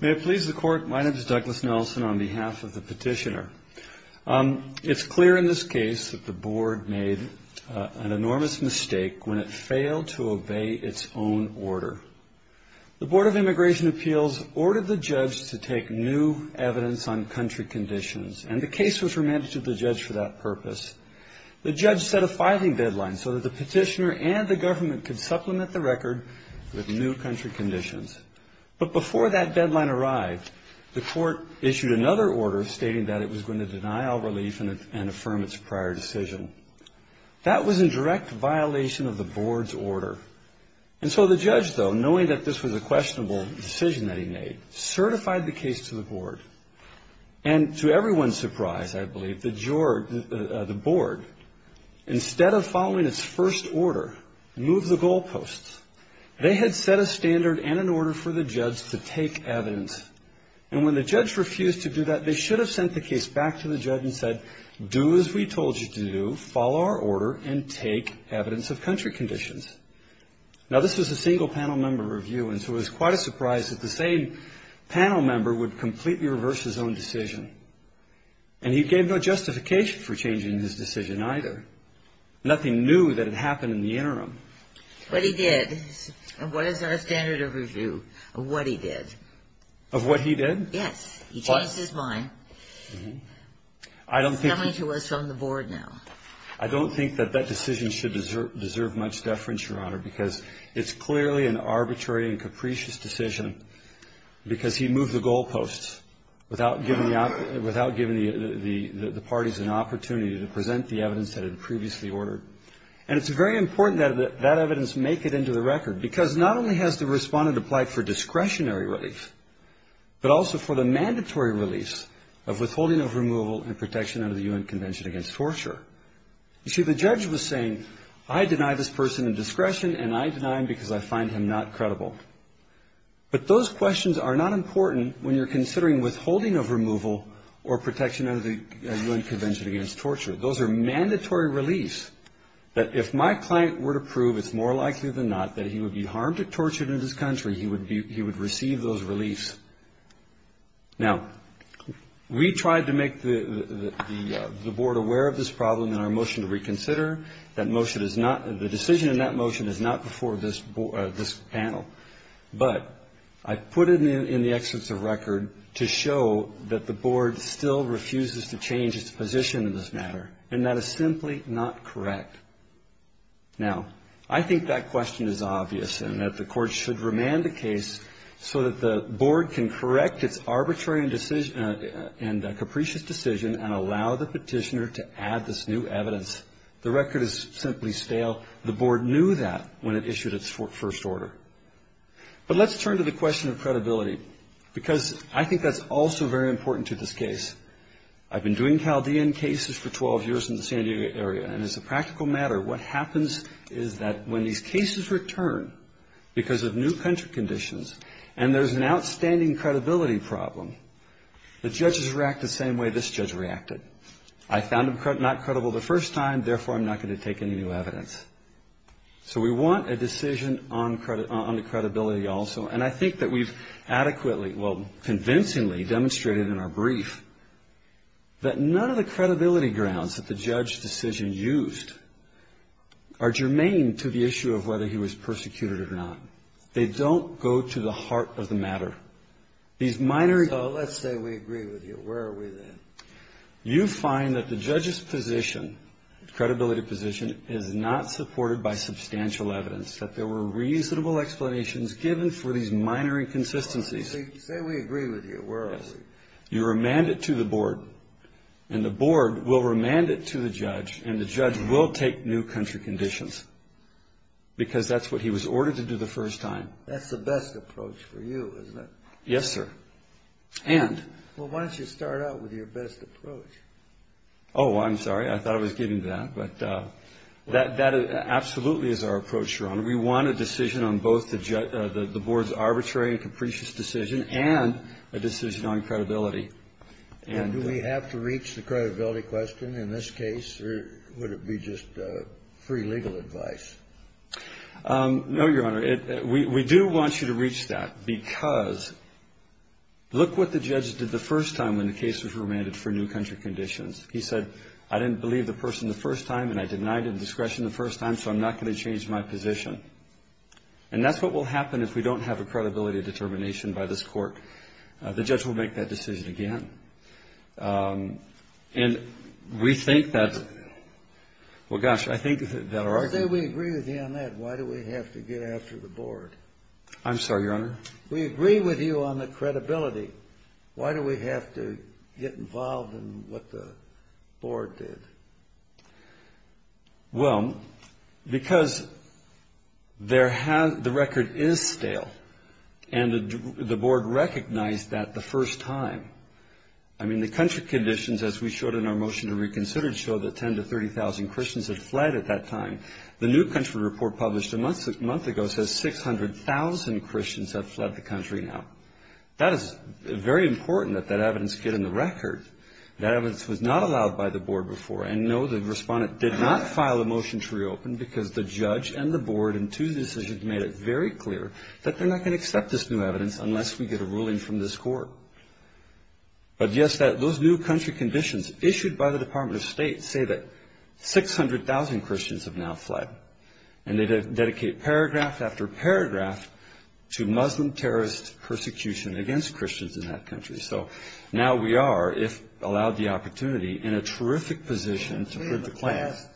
May it please the Court, my name is Douglas Nelson on behalf of the petitioner. It's clear in this case that the Board made an enormous mistake when it failed to obey its own order. The Board of Immigration Appeals ordered the judge to take new evidence on country conditions, and the case was remanded to the judge for that purpose. The judge set a filing deadline so that the petitioner and the government could supplement the record with new country conditions. But before that deadline arrived, the court issued another order stating that it was going to deny all relief and affirm its prior decision. That was in direct violation of the Board's order. And so the judge, though, knowing that this was a questionable decision that he made, certified the case to the Board. And to everyone's surprise, I believe, the Board, instead of following its first order, moved the goalposts. They had set a standard and an order for the judge to take evidence. And when the judge refused to do that, they should have sent the case back to the judge and said, do as we told you to do, follow our order, and take evidence of country conditions. Now, this was a single panel member review, and so it was quite a surprise that the same panel member would completely reverse his own decision. And he gave no justification for changing his decision either. Nothing new that had happened in the interim. But he did. What is our standard of review of what he did? Of what he did? Yes. He changed his mind. He's coming to us from the Board now. I don't think that that decision should deserve much deference, Your Honor, because it's clearly an arbitrary and capricious decision because he moved the goalposts without giving the parties an opportunity to present the evidence that had previously ordered. And it's very important that that evidence make it into the record, because not only has the respondent applied for discretionary relief, but also for the mandatory relief of withholding of removal and protection under the U.N. Convention Against Torture. You see, the judge was saying, I deny this person indiscretion, and I deny him because I find him not credible. But those questions are not important when you're considering withholding of removal or protection under the U.N. Convention Against Torture. Those are mandatory reliefs that if my client were to prove, it's more likely than not, that he would be harmed or tortured in this country, he would receive those reliefs. Now, we tried to make the Board aware of this problem in our motion to reconsider. That motion is not, the decision in that motion is not before this panel. But I put it in the Excellence of Record to show that the Board still refuses to change its position in this matter, and that is simply not correct. Now, I think that question is obvious and that the Court should remand the case so that the Board can correct its arbitrary and capricious decision and allow the Petitioner to add this new evidence. The record is simply stale. The Board knew that when it issued its first order. But let's turn to the question of credibility, because I think that's also very important to this case. I've been doing Chaldean cases for 12 years in the San Diego area, and as a practical matter, what happens is that when these cases return because of new country conditions and there's an outstanding credibility problem, the judges react the same way this judge reacted. I found him not credible the first time. Therefore, I'm not going to take any new evidence. So we want a decision on the credibility also. And I think that we've adequately, well, convincingly demonstrated in our brief that none of the credibility grounds that the judge's decision used are germane to the issue of whether he was persecuted or not. They don't go to the heart of the matter. These minor... So let's say we agree with you. Where are we then? You find that the judge's position, credibility position, is not supported by substantial evidence, that there were reasonable explanations given for these minor inconsistencies. Say we agree with you. Where are we? You remand it to the Board, and the Board will remand it to the judge, and the judge will take new country conditions, because that's what he was ordered to do the first time. That's the best approach for you, isn't it? Yes, sir. And... Well, why don't you start out with your best approach? Oh, I'm sorry. I thought I was getting to that. But that absolutely is our approach, Your Honor. We want a decision on both the Board's arbitrary and capricious decision and a decision on credibility. And do we have to reach the credibility question in this case, or would it be just free legal advice? No, Your Honor. We do want you to reach that, because look what the judge did the first time when the case was remanded for new country conditions. He said, I didn't believe the person the first time, and I denied it at discretion the first time, so I'm not going to change my position. And that's what will happen if we don't have a credibility determination by this Court. The judge will make that decision again. And we think that... Well, gosh, I think that our... I say we agree with you on that. Why do we have to get after the Board? I'm sorry, Your Honor? We agree with you on the credibility. Why do we have to get involved in what the Board did? Well, because the record is stale, and the Board recognized that the first time. I mean, the country conditions, as we showed in our motion to reconsider, showed that 10,000 to 30,000 Christians had fled at that time. The new country report published a month ago says 600,000 Christians have fled the country now. That is very important that that evidence get in the record. That evidence was not allowed by the Board before. And, no, the respondent did not file a motion to reopen, because the judge and the Board in two decisions made it very clear that they're not going to accept this new evidence unless we get a ruling from this Court. But, yes, those new country conditions issued by the Department of State say that 600,000 Christians have now fled. And they dedicate paragraph after paragraph to Muslim terrorist persecution against Christians in that country. So now we are, if allowed the opportunity, in a terrific position to put the class...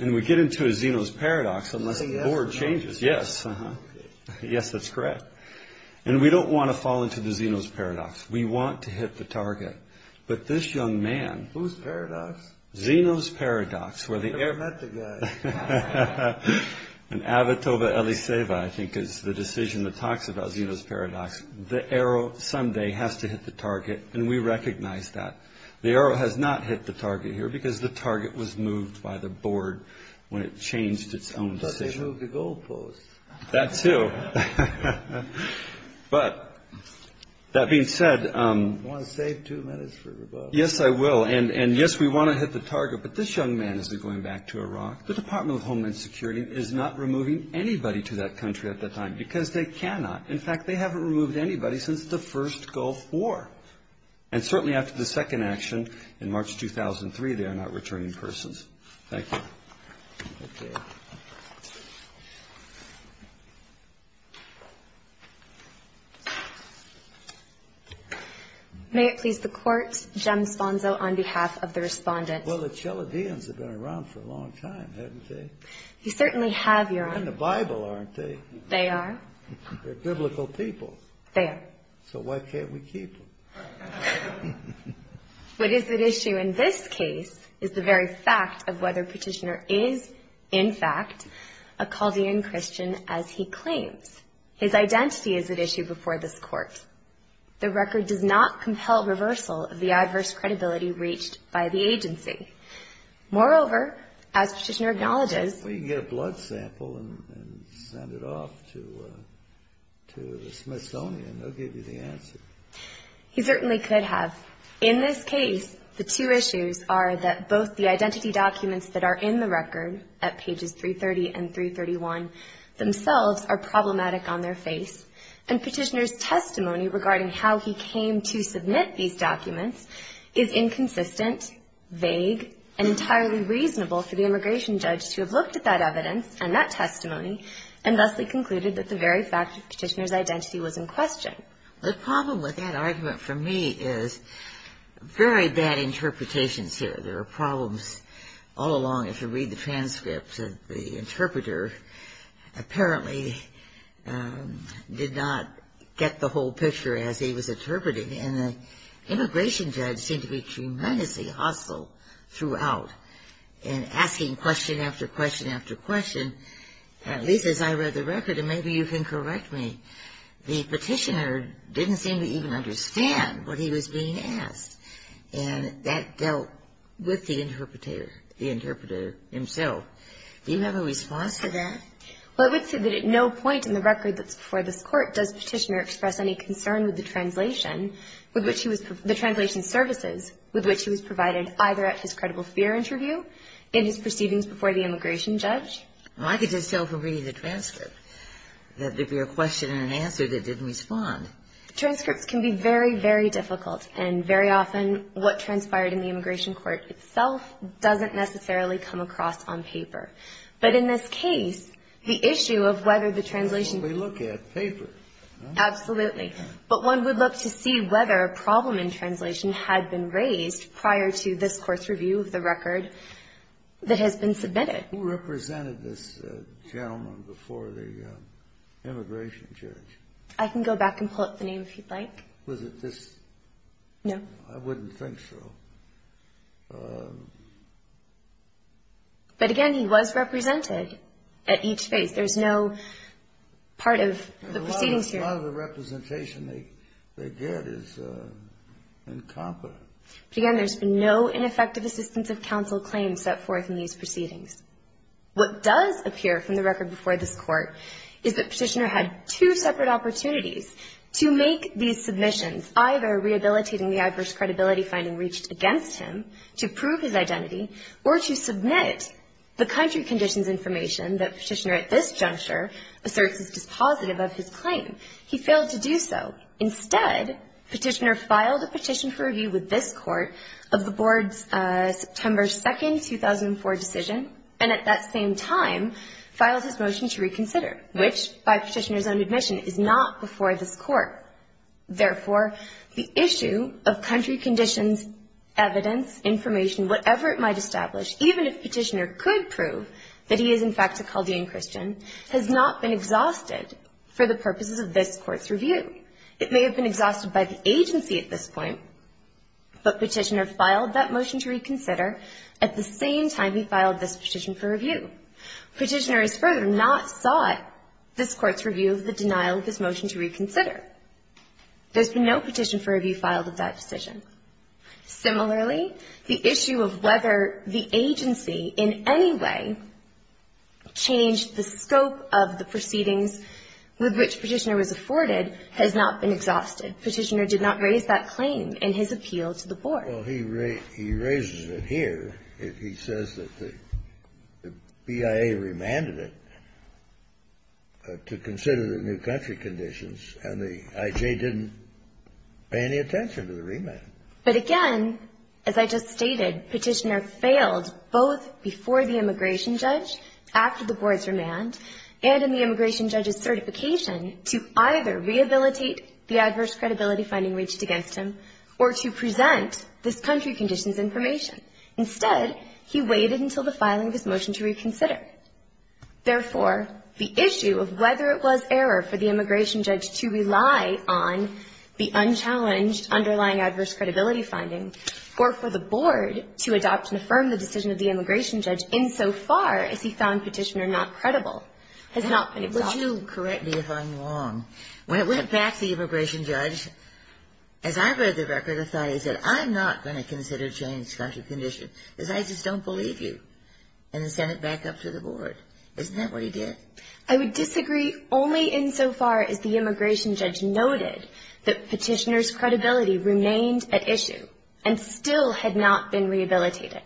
And we get into a Zeno's Paradox unless the Board changes. Yes, that's correct. And we don't want to fall into the Zeno's Paradox. We want to hit the target. But this young man... Who's paradox? Zeno's Paradox, where the... I've never met the guy. And Avotoba Eliseva, I think, is the decision that talks about Zeno's Paradox. The arrow someday has to hit the target, and we recognize that. The arrow has not hit the target here, because the target was moved by the Board when it changed its own decision. I thought they moved the goalposts. That too. But, that being said... You want to save two minutes for rebuttal? Yes, I will. And, yes, we want to hit the target. But this young man is going back to Iraq. The Department of Homeland Security is not removing anybody to that country at that time, because they cannot. In fact, they haven't removed anybody since the first Gulf War. And certainly after the second action in March 2003, they are not returning persons. Thank you. May it please the Court, Jem Sponzo on behalf of the Respondent. Well, the Chaldeans have been around for a long time, haven't they? You certainly have, Your Honor. They're in the Bible, aren't they? They are. They're biblical people. They are. So why can't we keep them? What is at issue in this case is the very fact of whether Petitioner is, in fact, a Chaldean Christian as he claims. His identity is at issue before this Court. The record does not compel reversal of the adverse credibility reached by the agency. Moreover, as Petitioner acknowledges... Well, you can get a blood sample and send it off to the Smithsonian. They'll give you the answer. He certainly could have. In this case, the two issues are that both the identity documents that are in the record, at pages 330 and 331, themselves are problematic on their face, and Petitioner's testimony regarding how he came to submit these documents is inconsistent, vague, and entirely reasonable for the immigration judge to have looked at that evidence and that testimony and thusly concluded that the very fact of Petitioner's identity was in question. The problem with that argument for me is very bad interpretations here. There are problems all along. If you read the transcript, the interpreter apparently did not get the whole picture as he was interpreting, and the immigration judge seemed to be tremendously hostile throughout in asking question after question after question, at least as I read the record, and maybe you can correct me. The Petitioner didn't seem to even understand what he was being asked, and that dealt with the interpreter, the interpreter himself. Do you have a response to that? Well, I would say that at no point in the record that's before this Court does Petitioner express any concern with the translation, with which he was, the translation services with which he was provided either at his credible fear interview and his proceedings before the immigration judge. Well, I could just tell from reading the transcript that there'd be a question and an answer that didn't respond. Transcripts can be very, very difficult, and very often what transpired in the immigration court itself doesn't necessarily come across on paper. But in this case, the issue of whether the translation ---- That's what we look at, paper. Absolutely. But one would look to see whether a problem in translation had been raised prior to this Court's review of the record that has been submitted. Who represented this gentleman before the immigration judge? I can go back and pull up the name if you'd like. Was it this? No. I wouldn't think so. But, again, he was represented at each phase. There's no part of the proceedings here. A lot of the representation they get is incompetent. But, again, there's been no ineffective assistance of counsel claim set forth in these proceedings. What does appear from the record before this Court is that Petitioner had two separate opportunities to make these submissions, either rehabilitating the adverse credibility finding reached against him to prove his identity or to submit the country conditions information that Petitioner at this juncture asserts is dispositive of his claim. He failed to do so. Instead, Petitioner filed a petition for review with this Court of the Board's September 2nd, 2004 decision and at that same time filed his motion to reconsider, which, by Petitioner's own admission, is not before this Court. Therefore, the issue of country conditions, evidence, information, whatever it might establish, even if Petitioner could prove that he is, in fact, a Chaldean Christian, has not been exhausted for the purposes of this Court's review. It may have been exhausted by the agency at this point, but Petitioner filed that motion to reconsider at the same time he filed this petition for review. Petitioner has further not sought this Court's review of the denial of his motion to reconsider. There's been no petition for review filed at that decision. Similarly, the issue of whether the agency in any way changed the scope of the proceedings with which Petitioner was afforded has not been exhausted. Petitioner did not raise that claim in his appeal to the Board. Well, he raises it here. He says that the BIA remanded it to consider the new country conditions, and the IJ didn't pay any attention to the remand. But again, as I just stated, Petitioner failed both before the immigration judge, after the board's remand, and in the immigration judge's certification to either rehabilitate the adverse credibility finding reached against him or to present this country conditions information. Instead, he waited until the filing of his motion to reconsider. Therefore, the issue of whether it was error for the immigration judge to rely on the unchallenged underlying adverse credibility finding or for the board to adopt and affirm the decision of the immigration judge insofar as he found Petitioner not credible has not been exhausted. Would you correct me if I'm wrong? When it went back to the immigration judge, as I read the record, I thought he said, I'm not going to consider changed country conditions because I just don't believe you, and then sent it back up to the board. Isn't that what he did? I would disagree only insofar as the immigration judge noted that Petitioner's credibility remained at issue and still had not been rehabilitated.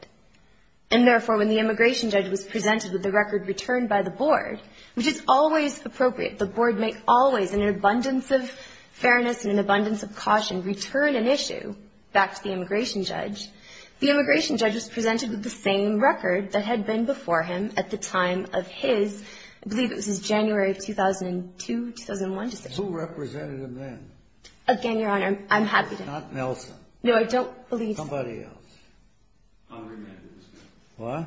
And therefore, when the immigration judge was presented with the record returned by the board, which is always appropriate, the board may always, in an abundance of fairness and an abundance of caution, return an issue back to the immigration judge, the immigration judge was presented with the same record that had been before him at the time of his, I believe it was his January of 2002, 2001 decision. Who represented him then? Again, Your Honor, I'm happy to know. Not Nelson. No, I don't believe so. Somebody else. Henri Mendez. What?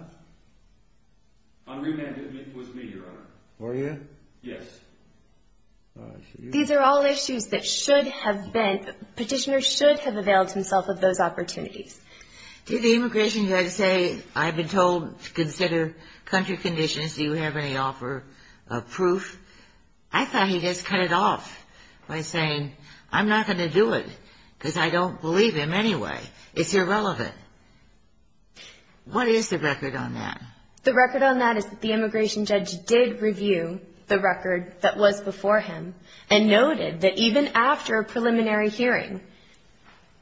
Henri Mendez was me, Your Honor. Were you? Yes. These are all issues that should have been, Petitioner should have availed himself of those opportunities. Did the immigration judge say, I've been told to consider country conditions. Do you have any offer of proof? I thought he just cut it off by saying, I'm not going to do it because I don't believe him anyway. It's irrelevant. What is the record on that? The record on that is that the immigration judge did review the record that was before him and noted that even after a preliminary hearing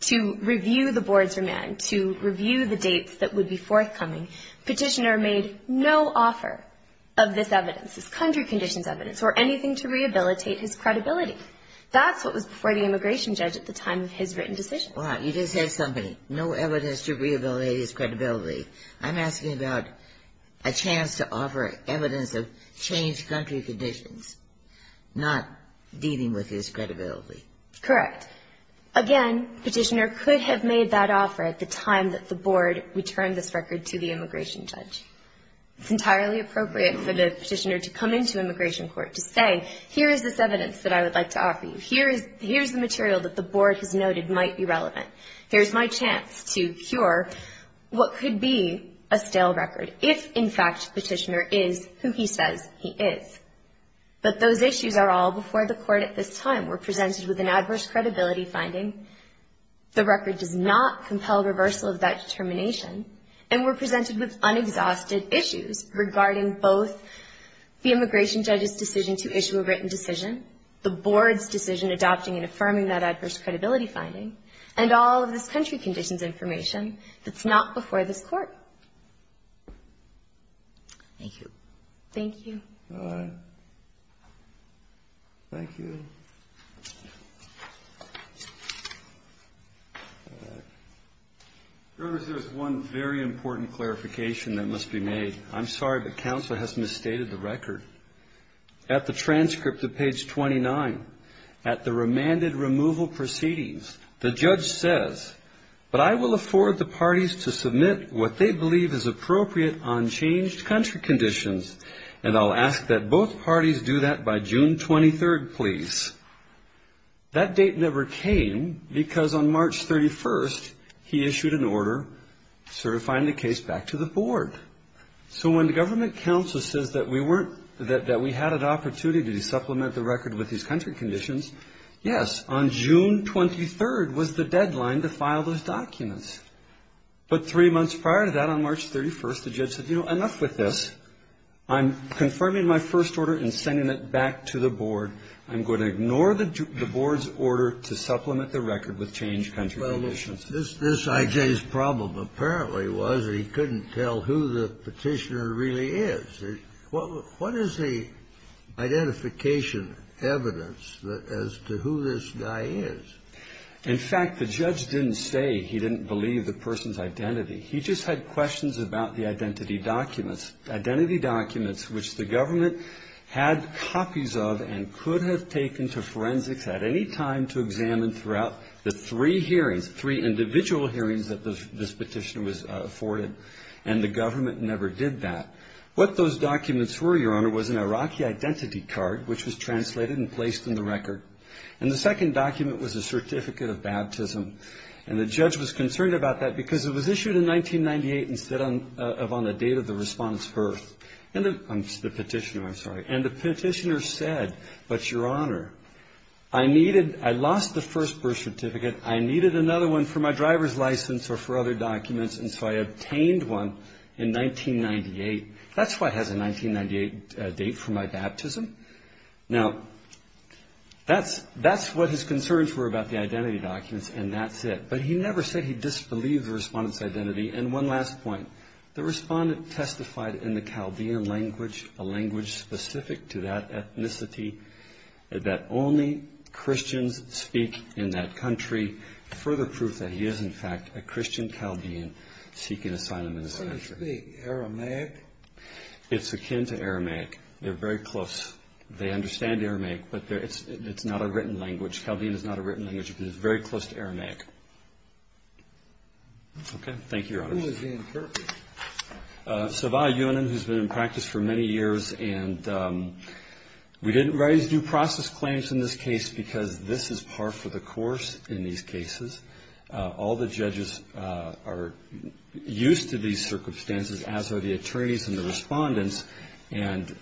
to review the board's remand, to review the dates that would be forthcoming, Petitioner made no offer of this evidence, this country conditions evidence or anything to rehabilitate his credibility. That's what was before the immigration judge at the time of his written decision. You just said something, no evidence to rehabilitate his credibility. I'm asking about a chance to offer evidence of changed country conditions, not dealing with his credibility. Correct. Again, Petitioner could have made that offer at the time that the board returned this record to the immigration judge. It's entirely appropriate for the Petitioner to come into immigration court to say, here is this evidence that I would like to offer you. Here is the material that the board has noted might be relevant. Here is my chance to cure what could be a stale record if, in fact, Petitioner is who he says he is. But those issues are all before the court at this time. We're presented with an adverse credibility finding. The record does not compel reversal of that determination. And we're presented with unexhausted issues regarding both the immigration judge's decision to issue a written decision, the board's decision adopting and affirming that adverse credibility finding, and all of this country conditions information that's not before this Court. Thank you. Thank you. All right. Thank you. All right. Your Honor, there is one very important clarification that must be made. I'm sorry, but counsel has misstated the record. At the transcript of page 29, at the remanded removal proceedings, the judge says, but I will afford the parties to submit what they believe is appropriate on changed country conditions, and I'll ask that both parties do that by June 23rd, please. That date never came because on March 31st, he issued an order to sort of find the case back to the board. So when the government counsel says that we had an opportunity to supplement the record with these country conditions, yes, on June 23rd was the deadline to file those documents. But three months prior to that, on March 31st, the judge said, you know, enough with this. I'm confirming my first order and sending it back to the board. I'm going to ignore the board's order to supplement the record with changed country conditions. This I.J.'s problem apparently was that he couldn't tell who the petitioner really is. What is the identification evidence as to who this guy is? In fact, the judge didn't say he didn't believe the person's identity. He just had questions about the identity documents, identity documents which the government had copies of and could have taken to forensics at any time to examine throughout the three hearings, three individual hearings that this petitioner was afforded. And the government never did that. What those documents were, Your Honor, was an Iraqi identity card which was translated and placed in the record. And the second document was a certificate of baptism. And the judge was concerned about that because it was issued in 1998 instead of on the date of the respondent's birth. The petitioner, I'm sorry. And the petitioner said, but Your Honor, I lost the first birth certificate. I needed another one for my driver's license or for other documents, and so I obtained one in 1998. That's why it has a 1998 date for my baptism. Now, that's what his concerns were about the identity documents, and that's it. And one last point. The respondent testified in the Chaldean language, a language specific to that ethnicity, that only Christians speak in that country, further proof that he is, in fact, a Christian Chaldean seeking asylum in this country. What does it speak, Aramaic? It's akin to Aramaic. They're very close. They understand Aramaic, but it's not a written language. Chaldean is not a written language, but it's very close to Aramaic. Okay. Thank you, Your Honor. Who is Ian Kirk? Savah Younan, who's been in practice for many years. And we didn't raise due process claims in this case because this is par for the course in these cases. All the judges are used to these circumstances, as are the attorneys and the respondents, and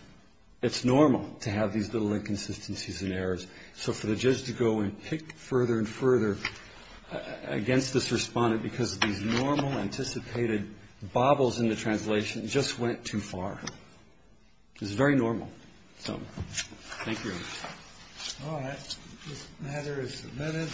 it's normal to have these little inconsistencies and errors. So for the judge to go and pick further and further against this respondent because these normal, anticipated bobbles in the translation just went too far is very normal. So thank you, Your Honor. All right. This matter is submitted.